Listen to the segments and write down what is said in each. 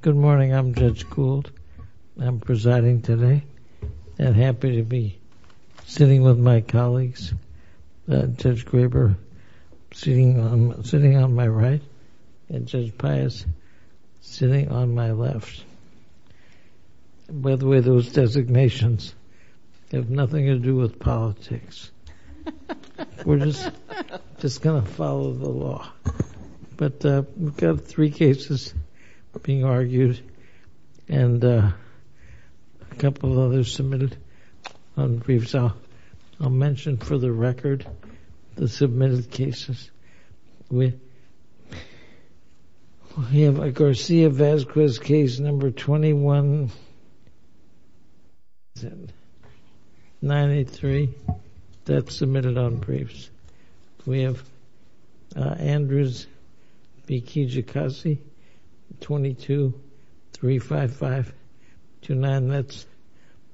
Good morning, I'm Judge Gould. I'm presiding today, and happy to be sitting with my colleagues, Judge Graber sitting on my right, and Judge Pius sitting on my left. By the way, those designations have nothing to do with politics. We're just going to follow the law. But we've got three cases being argued, and a couple of others submitted on briefs. I'll mention for the record the submitted cases. We have Garcia-Vazquez case number 2193 that's submitted on briefs. We have Andrews v. Kijakazi, 22-355-29 that's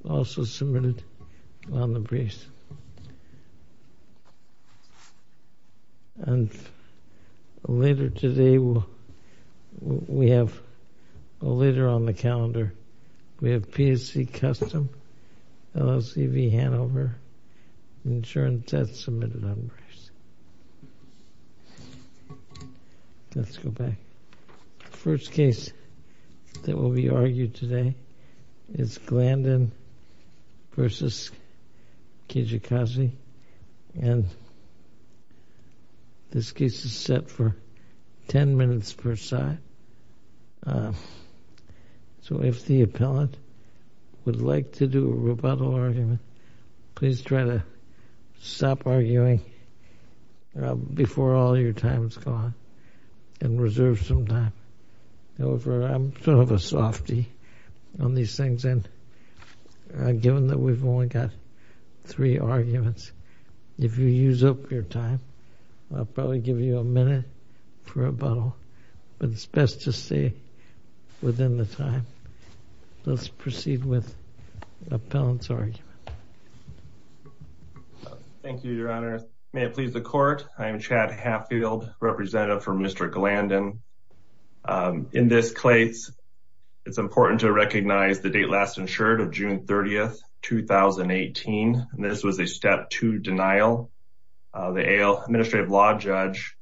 also submitted on the briefs. And later today we have, later on the calendar, we have PSC Custom, LLC v. Hanover, insurance that's submitted on briefs. Let's go back. First case that will be argued today is Glanden v. Kijakazi, and this case is set for ten minutes per side. So if the appellant would like to do a rebuttal argument, please try to stop arguing before all your time's gone and reserve some time. However, I'm sort of a softy on these things, and given that we've only got three arguments, if you use up your time, I'll probably give you a minute for a rebuttal. But it's best to stay within the time. Let's proceed with the appellant's argument. Thank you, Your Honor. May it please the court, I am Chad Hatfield, representative for Mr. Glanden. In this case, it's important to recognize the date last insured of June 30, 2018. This was a Step 2 denial. The AL Administrative Law Judge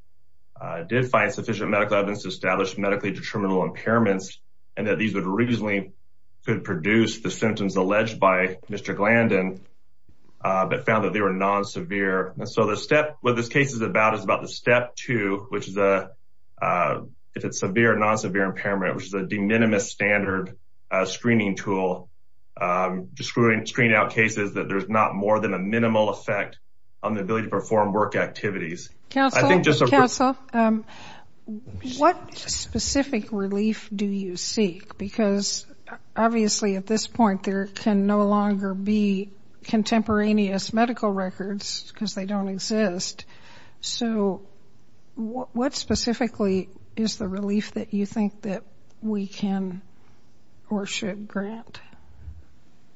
did find sufficient medical evidence to establish medically determinable impairments, and that these would reasonably could produce the symptoms alleged by Mr. Glanden, but found that they were non-severe. And so what this case is about is about the Step 2, which is if it's severe or non-severe impairment, which is a de minimis standard screening tool to screen out cases that there's not more than a minimal effect on the ability to perform work activities. Counsel, what specific relief do you seek? Because obviously at this point, there can no longer be contemporaneous medical records because they don't exist. So what specifically is the relief that you think that we can or should grant?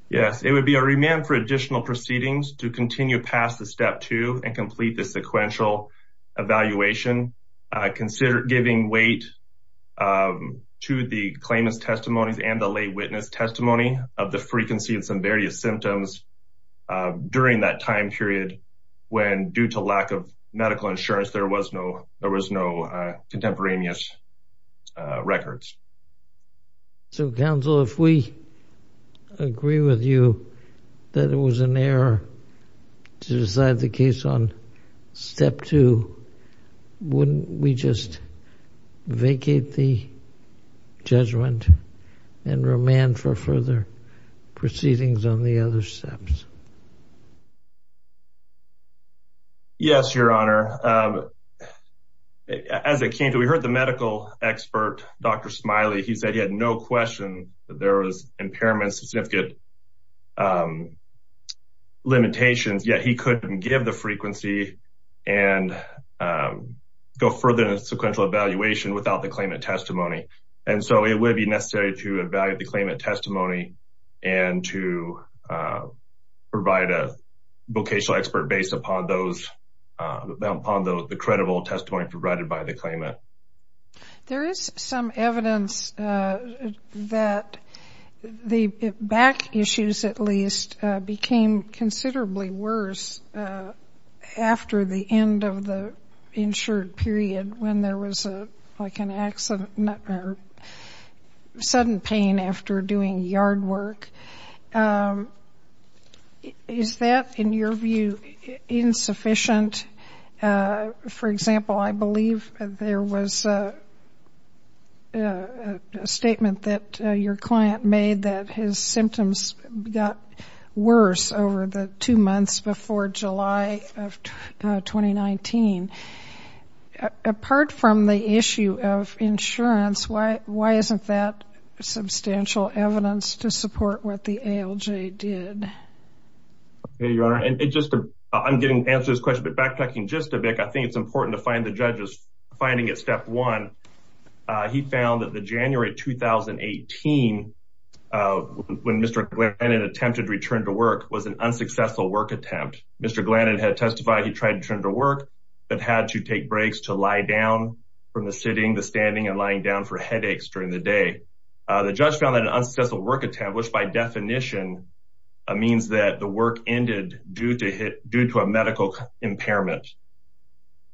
Yes, it would be a remand for additional proceedings to continue past the Step 2 and complete the sequential evaluation. Consider giving weight to the claimant's testimonies and the lay witness testimony of the frequency of some various symptoms during that time period when due to lack of medical insurance, there was no contemporaneous records. So, Counsel, if we agree with you that it was an error to decide the case on Step 2, wouldn't we just vacate the judgment and remand for further proceedings on the other steps? Yes, Your Honor. As it came to, we heard the medical expert, Dr. Smiley. He said he had no question that there was impairment, significant limitations, yet he couldn't give the frequency and go further in a sequential evaluation without the claimant testimony. And so it would be necessary to evaluate the claimant testimony and to provide a vocational expert based upon the credible testimony provided by the claimant. There is some evidence that the back issues, at least, became considerably worse after the end of the period when there was a sudden pain after doing yard work. Is that, in your view, insufficient? For example, I believe there was a statement that your client made that his symptoms got worse over the two months before July of 2019. Apart from the issue of insurance, why isn't that substantial evidence to support what the ALJ did? Okay, Your Honor. I'm getting answers to this question, but backtracking just a bit, I think it's important to find the judges. Finding at Step 1, he found that the January 2018, when Mr. Glennon attempted to return to work, was an unsuccessful work attempt. Mr. Glennon had testified he tried to return to work, but had to take breaks to lie down from the sitting, the standing, and lying down for headaches during the day. The judge found that an unsuccessful work attempt, which by definition means that the work ended due to a medical impairment.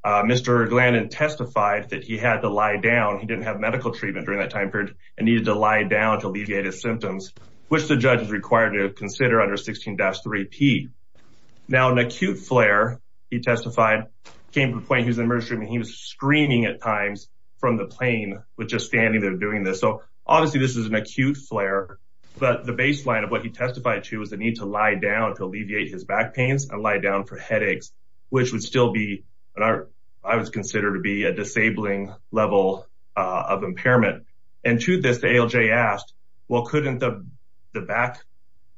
Mr. Glennon testified that he had to lie down, he didn't have medical treatment during that time period, and needed to lie down to alleviate his symptoms, which the judge is required to consider under 16-3P. Now, an acute flare, he testified, came to the point he was in the emergency room and he was screaming at times from the plane with just standing there doing this. So, obviously, this is an acute flare, but the baseline of what he testified to was the need to lie down to alleviate his back pains and lie down for headaches, which would still be what I would consider to be a disabling level of impairment. And to this, the ALJ asked, well, couldn't the back,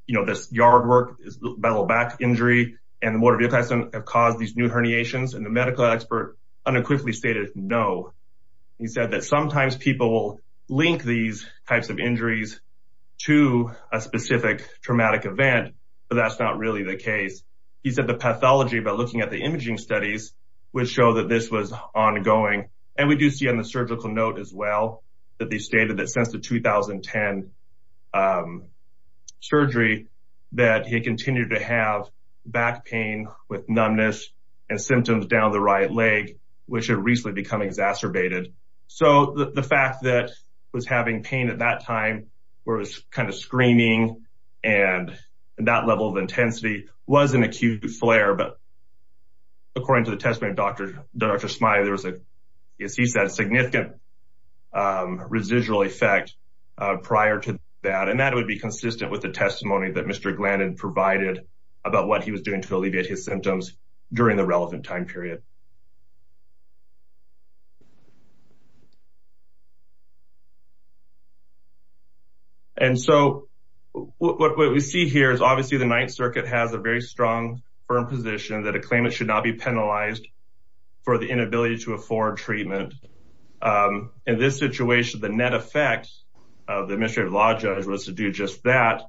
you know, this yard work, this bellow back injury, and the motor vehicle accident have caused these new herniations? And the medical expert unequivocally stated no. He said that sometimes people link these types of injuries to a specific traumatic event, but that's not really the case. He said the pathology, by looking at the imaging studies, would show that this was ongoing. And we do see on the surgical note as well that they stated that since the 2010 surgery that he continued to have back pain with numbness and symptoms down the right leg, which had recently become exacerbated. So, the fact that he was having pain at that time where it was kind of screaming and that level of intensity was an acute flare, but according to the testimony of Dr. Smiley, there was a, as he said, significant residual effect prior to that. And that would be consistent with the testimony that Mr. Glannon provided about what he was doing to alleviate his symptoms during the relevant time period. And so, what we see here is obviously the Ninth Circuit has a very strong, firm position that a claimant should not be penalized for the inability to afford treatment. In this situation, the net effect of the administrative law judge was to do just that.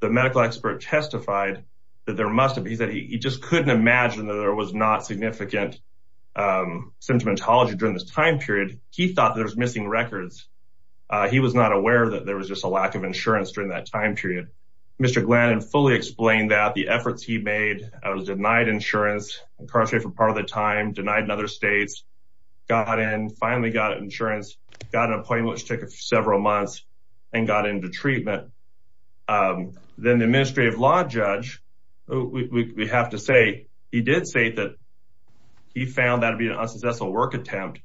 The medical expert testified that there must have been, he said he just couldn't imagine that there was not significant symptomatology during this time period. He thought there was missing records. He was not aware that there was just a lack of insurance during that time period. Mr. Glannon fully explained that the efforts he made was denied insurance, incarcerated for part of the time, denied in other states, got in, finally got insurance, got an appointment, which took several months, and got into the hospital. He found that to be an unsuccessful work attempt,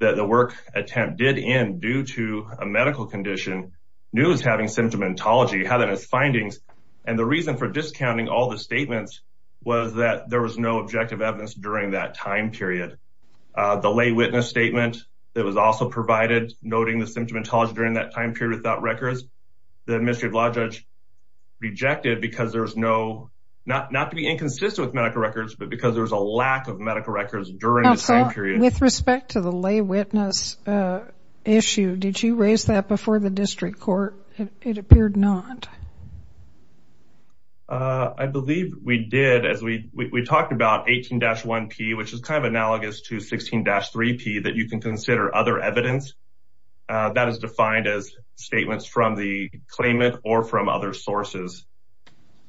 that the work attempt did end due to a medical condition, knew he was having symptomatology, had in his findings, and the reason for discounting all the statements was that there was no objective evidence during that time period. The lay witness statement that was also provided, noting the symptomatology during that time period without records, the administrative law judge rejected because there was no, not to be inconsistent with medical records, but because there was a lack of medical records during the time period. With respect to the lay witness issue, did you raise that before the district court? It appeared not. I believe we did, as we talked about 18-1P, which is kind of analogous to 16-3P, that you can consider other evidence. That is defined as statements from the claimant or from other sources.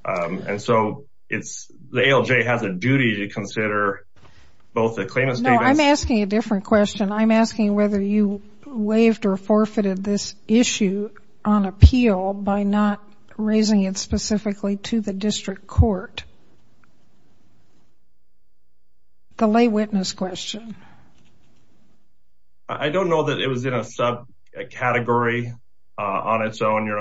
And so it's, the ALJ has a duty to consider both the claimant statements. No, I'm asking a different question. I'm asking whether you waived or forfeited this issue on appeal by not raising it specifically to the district court. The lay witness question. I don't know that it was in a sub-category on its own, Your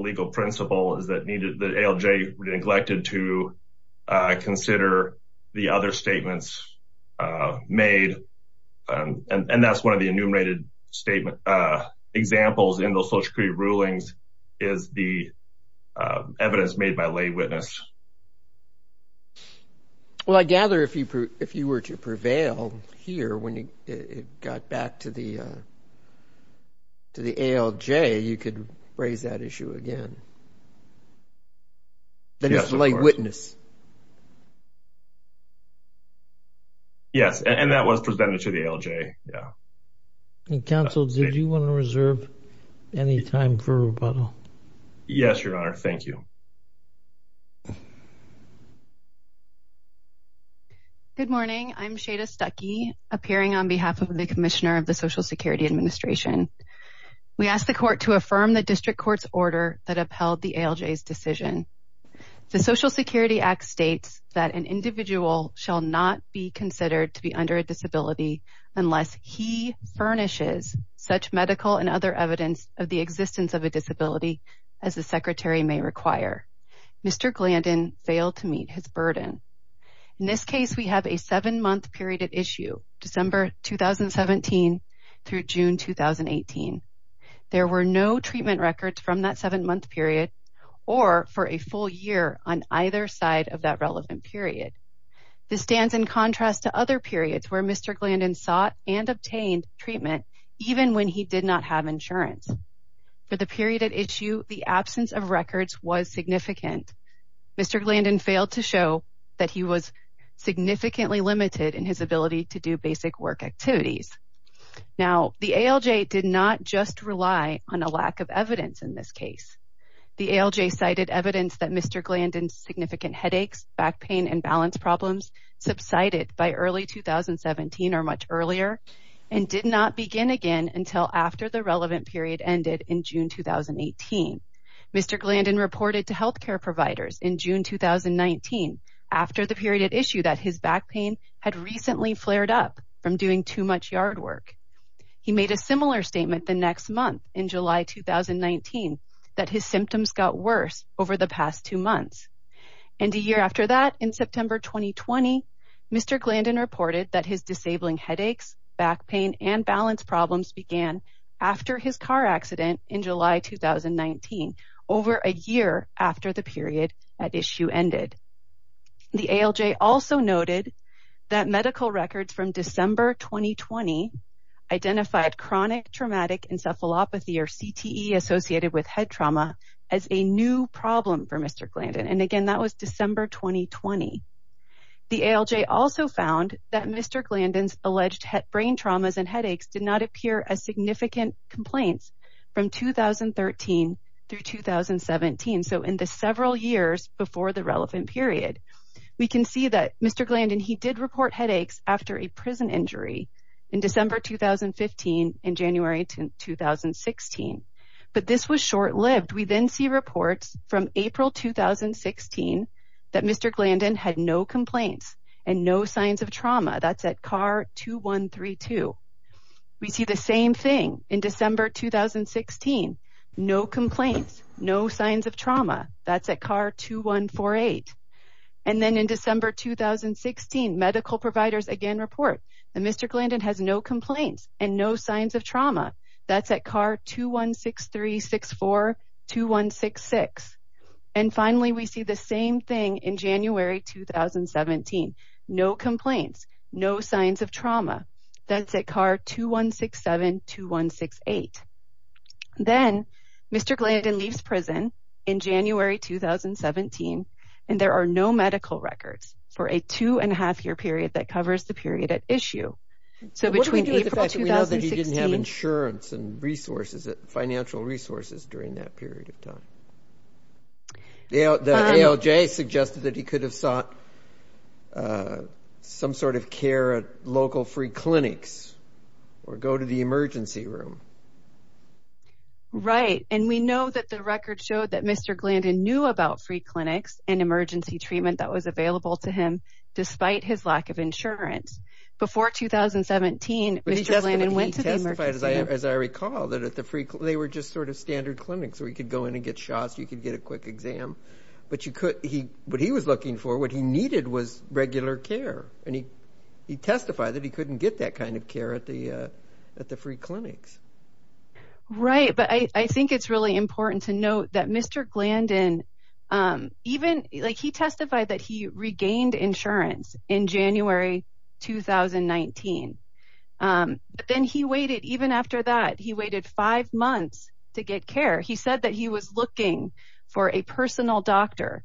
legal principle is that the ALJ neglected to consider the other statements made. And that's one of the enumerated statement examples in the Social Security rulings is the evidence made by lay witness. Well, I gather if you were to prevail here when it got back to the ALJ, you could raise that issue again. That is the lay witness. Yes. And that was presented to the ALJ. Yeah. Counsel, did you want to reserve any time for rebuttal? Yes, Your Honor. Thank you. Good morning. I'm Shada Stuckey, appearing on behalf of the Commissioner of the Social Security Administration. We asked the court to affirm the district court's order that upheld the ALJ's decision. The Social Security Act states that an individual shall not be considered to be under a disability unless he furnishes such medical and other evidence of the existence of a disability. The district court's order states that an individual shall not be considered to be under a disability unless he furnishes such medical and other evidence of the existence of a disability. The district court's order states that an individual shall not be considered to be under a disability unless he Now, the ALJ did not just rely on a lack of evidence in this case. The ALJ cited evidence that Mr. Glandon's significant headaches, back pain, and balance problems subsided by early 2017 or much earlier and did not begin again until after the relevant period ended in June 2018. Mr. Glandon reported to He made a similar statement the next month, in July 2019, that his symptoms got worse over the past two months. And a year after that, in September 2020, Mr. Glandon reported that his disabling headaches, back pain, and balance problems began after his car accident in July 2019, over a year after the period at issue ended. The ALJ also noted that medical records from December 2020 identified chronic traumatic encephalopathy or CTE associated with head trauma as a new problem for Mr. Glandon. And again, that was December 2020. The ALJ also found that Mr. Glandon's alleged brain traumas and headaches did not appear as significant complaints from 2013 through 2017. So, in the several years before the relevant period, we can see that Mr. Glandon, he did report headaches after a prison injury in December 2015 and January 2016. But this was short-lived. We then see reports from April 2016 that Mr. Glandon had no complaints and no signs of trauma. That's at CAR 2132. We see the same thing in December 2016. No complaints, no signs of trauma. That's at CAR 2148. And then in December 2016, medical providers again report that Mr. Glandon has no complaints and no signs of trauma. That's at CAR 2163-64-2166. And finally, we see the same thing in January 2017. No complaints, no signs of trauma. That's at CAR 2167-2168. Then, Mr. Glandon leaves prison in January 2017 and there are no medical records for a two and a half year period that covers the period at issue. What do we do with the fact that we know that he didn't have insurance and financial resources during that period of time? The ALJ suggested that he could have sought some sort of care at local free clinics or go to the emergency room. Right, and we know that the record showed that Mr. Glandon knew about free clinics and emergency treatment that was available to him despite his lack of insurance. Before 2017, Mr. Glandon went to the emergency room. But he testified, as I recall, that they were just sort of standard clinics where he could go in and get shots, you could get a quick exam. But what he was looking for, what he needed was regular care and he testified that he couldn't get that kind of care at the free clinics. Right, but I think it's really important to note that Mr. Glandon, he testified that he regained insurance in January 2019. But then he waited, even after that, he waited five months to get care. He said that he was looking for a personal doctor,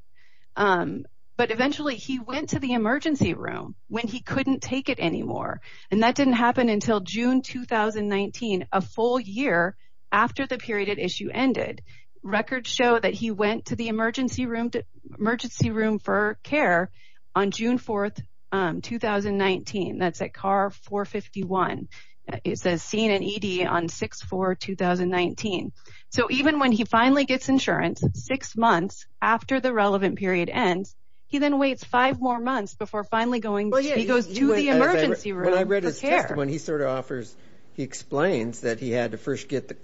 but eventually he went to the emergency room when he couldn't take it anymore. And that didn't happen until June 2019, a full year after the period issue ended. Records show that he went to the emergency room for care on June 4, 2019. That's at car 451. It says seen in ED on 6-4-2019. So even when he finally gets insurance, six months after the relevant period ends, he then waits five more months before finally going to the emergency room. When I read his testimony, he sort of offers, he explains that he had to first get,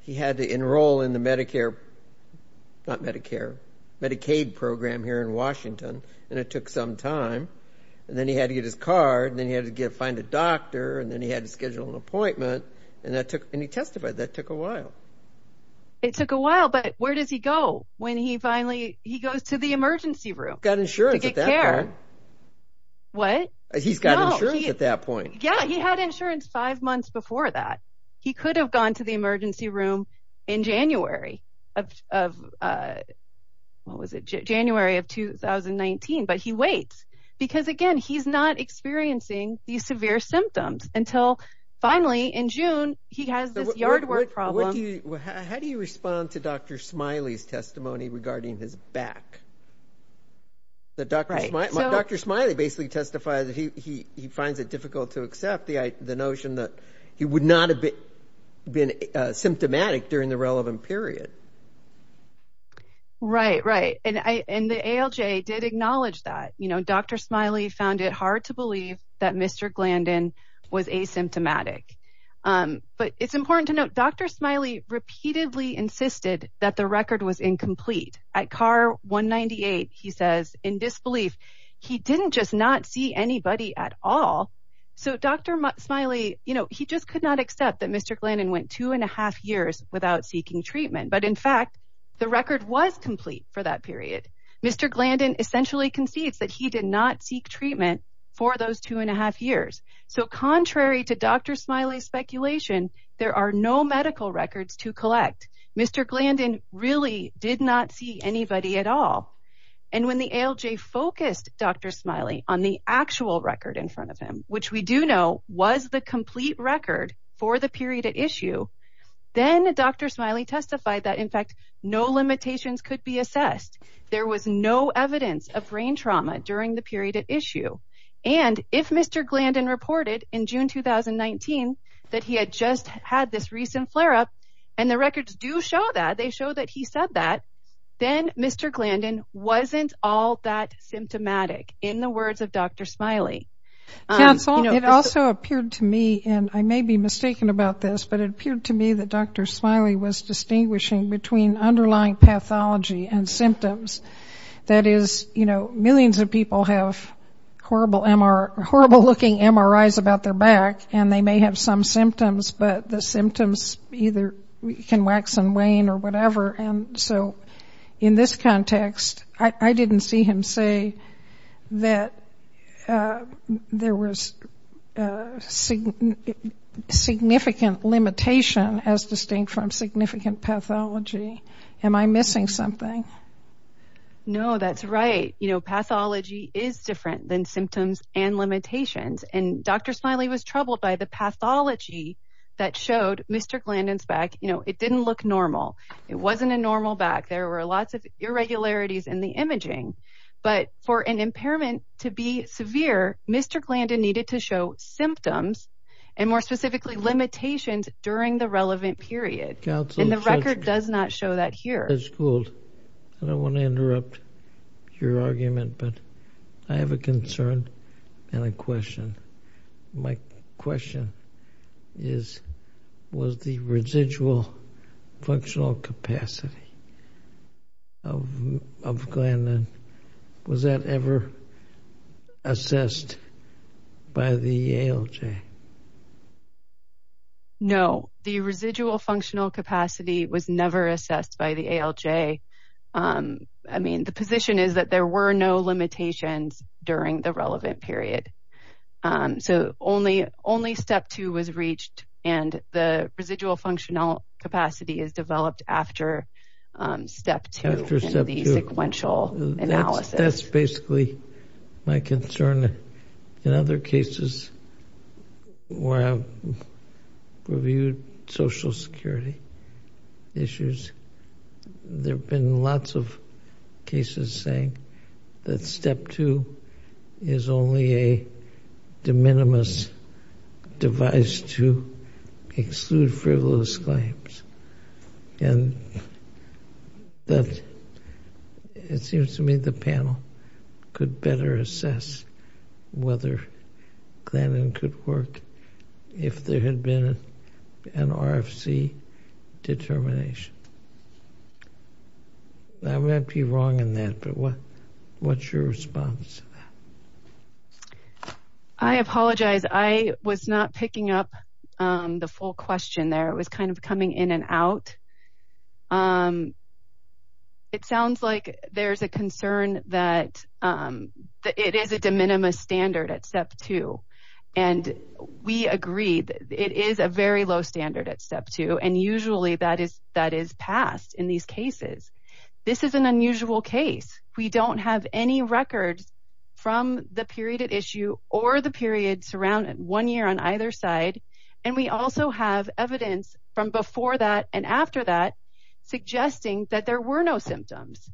he had to enroll in the Medicare, not Medicare, Medicaid program here in Washington. And it took some time. And then he had to get his card and then he had to find a doctor and then he had to schedule an appointment. And that took, and he testified, that took a while. It took a while, but where does he go when he finally, he goes to the emergency room to get care? He's got insurance at that point. What? He's got insurance at that point. Yeah, he had insurance five months before that. He could have gone to the emergency room in January of, what was it, January of 2019, but he waits. Because again, he's not experiencing these severe symptoms until finally in June he has this yard work problem. How do you respond to Dr. Smiley's testimony regarding his back? Dr. Smiley basically testified that he finds it difficult to accept the notion that he would not have been symptomatic during the relevant period. Right, right. And the ALJ did acknowledge that. Dr. Smiley found it hard to believe that Mr. Glandon was asymptomatic. But it's important to note, Dr. Smiley repeatedly insisted that the record was incomplete. At CAR 198, he says, in disbelief, he didn't just not see anybody at all. So Dr. Smiley, you know, he just could not accept that Mr. Glandon went two and a half years without seeking treatment. But in fact, the record was complete for that period. Mr. Glandon essentially concedes that he did not seek treatment for those two and a half years. So contrary to Dr. Smiley's speculation, there are no medical records to collect. Mr. Glandon really did not see anybody at all. And when the ALJ focused Dr. Smiley on the actual record in front of him, which we do know was the complete record for the period at issue, then Dr. Smiley testified that, in fact, no limitations could be assessed. There was no evidence of brain trauma during the period at issue. And if Mr. Glandon reported in June 2019 that he had just had this recent flare-up, and the records do show that, they show that he said that, then Mr. Glandon wasn't all that symptomatic, in the words of Dr. Smiley. Counsel, it also appeared to me, and I may be mistaken about this, but it appeared to me that Dr. Smiley was distinguishing between underlying pathology and symptoms. That is, you know, millions of people have horrible looking MRIs about their back, and they may have some symptoms, but the symptoms either can wax and wane or whatever. And so in this context, I didn't see him say that there was significant limitation as distinct from significant pathology. Am I missing something? No, that's right. You know, pathology is different than symptoms and limitations. And Dr. Smiley was troubled by the pathology that showed Mr. Glandon's back. You know, it didn't look normal. It wasn't a normal back. There were lots of irregularities in the imaging. But for an impairment to be severe, Mr. Glandon needed to show symptoms, and more specifically, limitations during the relevant period. And the record does not show that here. Judge Gould, I don't want to interrupt your argument, but I have a concern and a question. My question is, was the residual functional capacity of Glandon, was that ever assessed by the ALJ? No, the residual functional capacity was never assessed by the ALJ. I mean, the position is that there were no limitations during the relevant period. So only step two was reached, and the residual functional capacity is developed after step two in the sequential analysis. That's basically my concern. In other cases where I've reviewed Social Security issues, there have been lots of cases saying that step two is only a de minimis device to exclude frivolous claims. And it seems to me the panel could better assess whether Glandon could work if there had been an RFC determination. I might be wrong in that, but what's your response to that? I apologize. I was not picking up the full question there. It was kind of coming in and out. It sounds like there's a concern that it is a de minimis standard at step two. And we agree that it is a very low standard at step two, and usually that is passed in these cases. This is an unusual case. We don't have any records from the period at issue or the period surrounding one year on either side. And we also have evidence from before that and after that suggesting that there were no symptoms.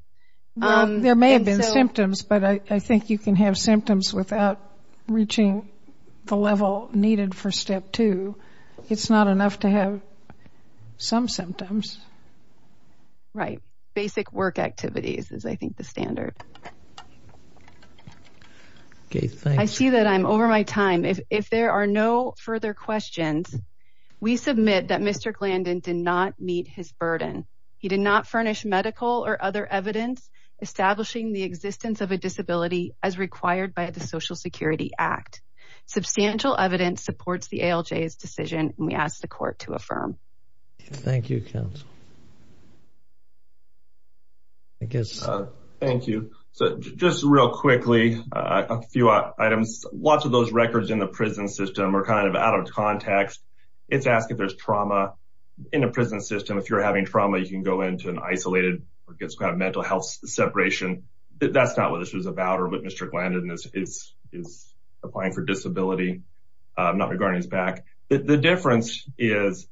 There may have been symptoms, but I think you can have symptoms without reaching the level needed for step two. It's not enough to have some symptoms. Right. Basic work activities is, I think, the standard. I see that I'm over my time. If there are no further questions, we submit that Mr. Glandon did not meet his burden. He did not furnish medical or other evidence establishing the existence of a disability as required by the Social Security Act. Substantial evidence supports the ALJ's decision, and we ask the court to affirm. Thank you, counsel. Thank you. Just real quickly, a few items. Lots of those records in the prison system are kind of out of context. It's asked if there's trauma in a prison system. If you're having trauma, you can go into an isolated or get some kind of mental health separation. That's not what this was about or what Mr. Glandon is applying for disability, not regarding his back. The difference is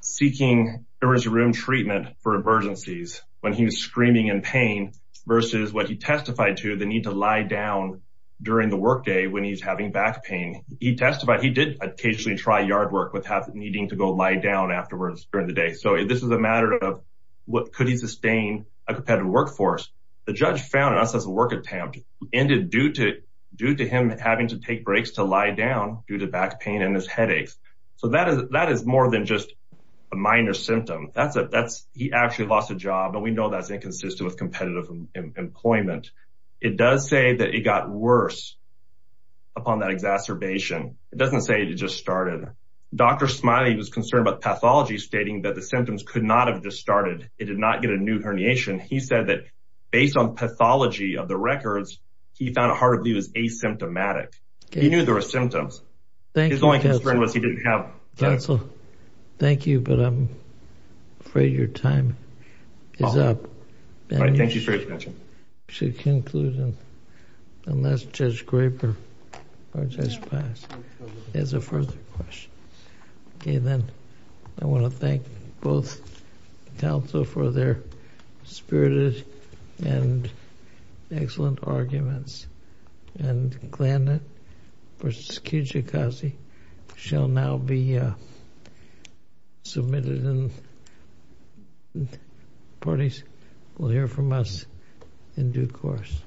seeking emergency room treatment for emergencies when he was screaming in pain versus what he testified to, the need to lie down during the workday when he's having back pain. He testified he did occasionally try yard work without needing to go lie down afterwards during the day. So this is a matter of what could he sustain a competitive workforce. The judge found in us as a work attempt ended due to him having to take breaks to lie down due to back pain and his headaches. So that is more than just a minor symptom. He actually lost a job, and we know that's inconsistent with competitive employment. It does say that it got worse upon that exacerbation. It doesn't say it just started. Dr. Smiley was concerned about pathology, stating that the symptoms could not have just started. It did not get a new herniation. He said that based on pathology of the records, he found it hardly was asymptomatic. He knew there were symptoms. His only concern was he didn't have. Counsel, thank you, but I'm afraid your time is up. Thank you for your attention. Should conclude unless Judge Graper or Judge Paz has a further question. Okay, then. I want to thank both counsel for their spirited and excellent arguments. And Klan versus Kijikazi shall now be submitted, and parties will hear from us in due course.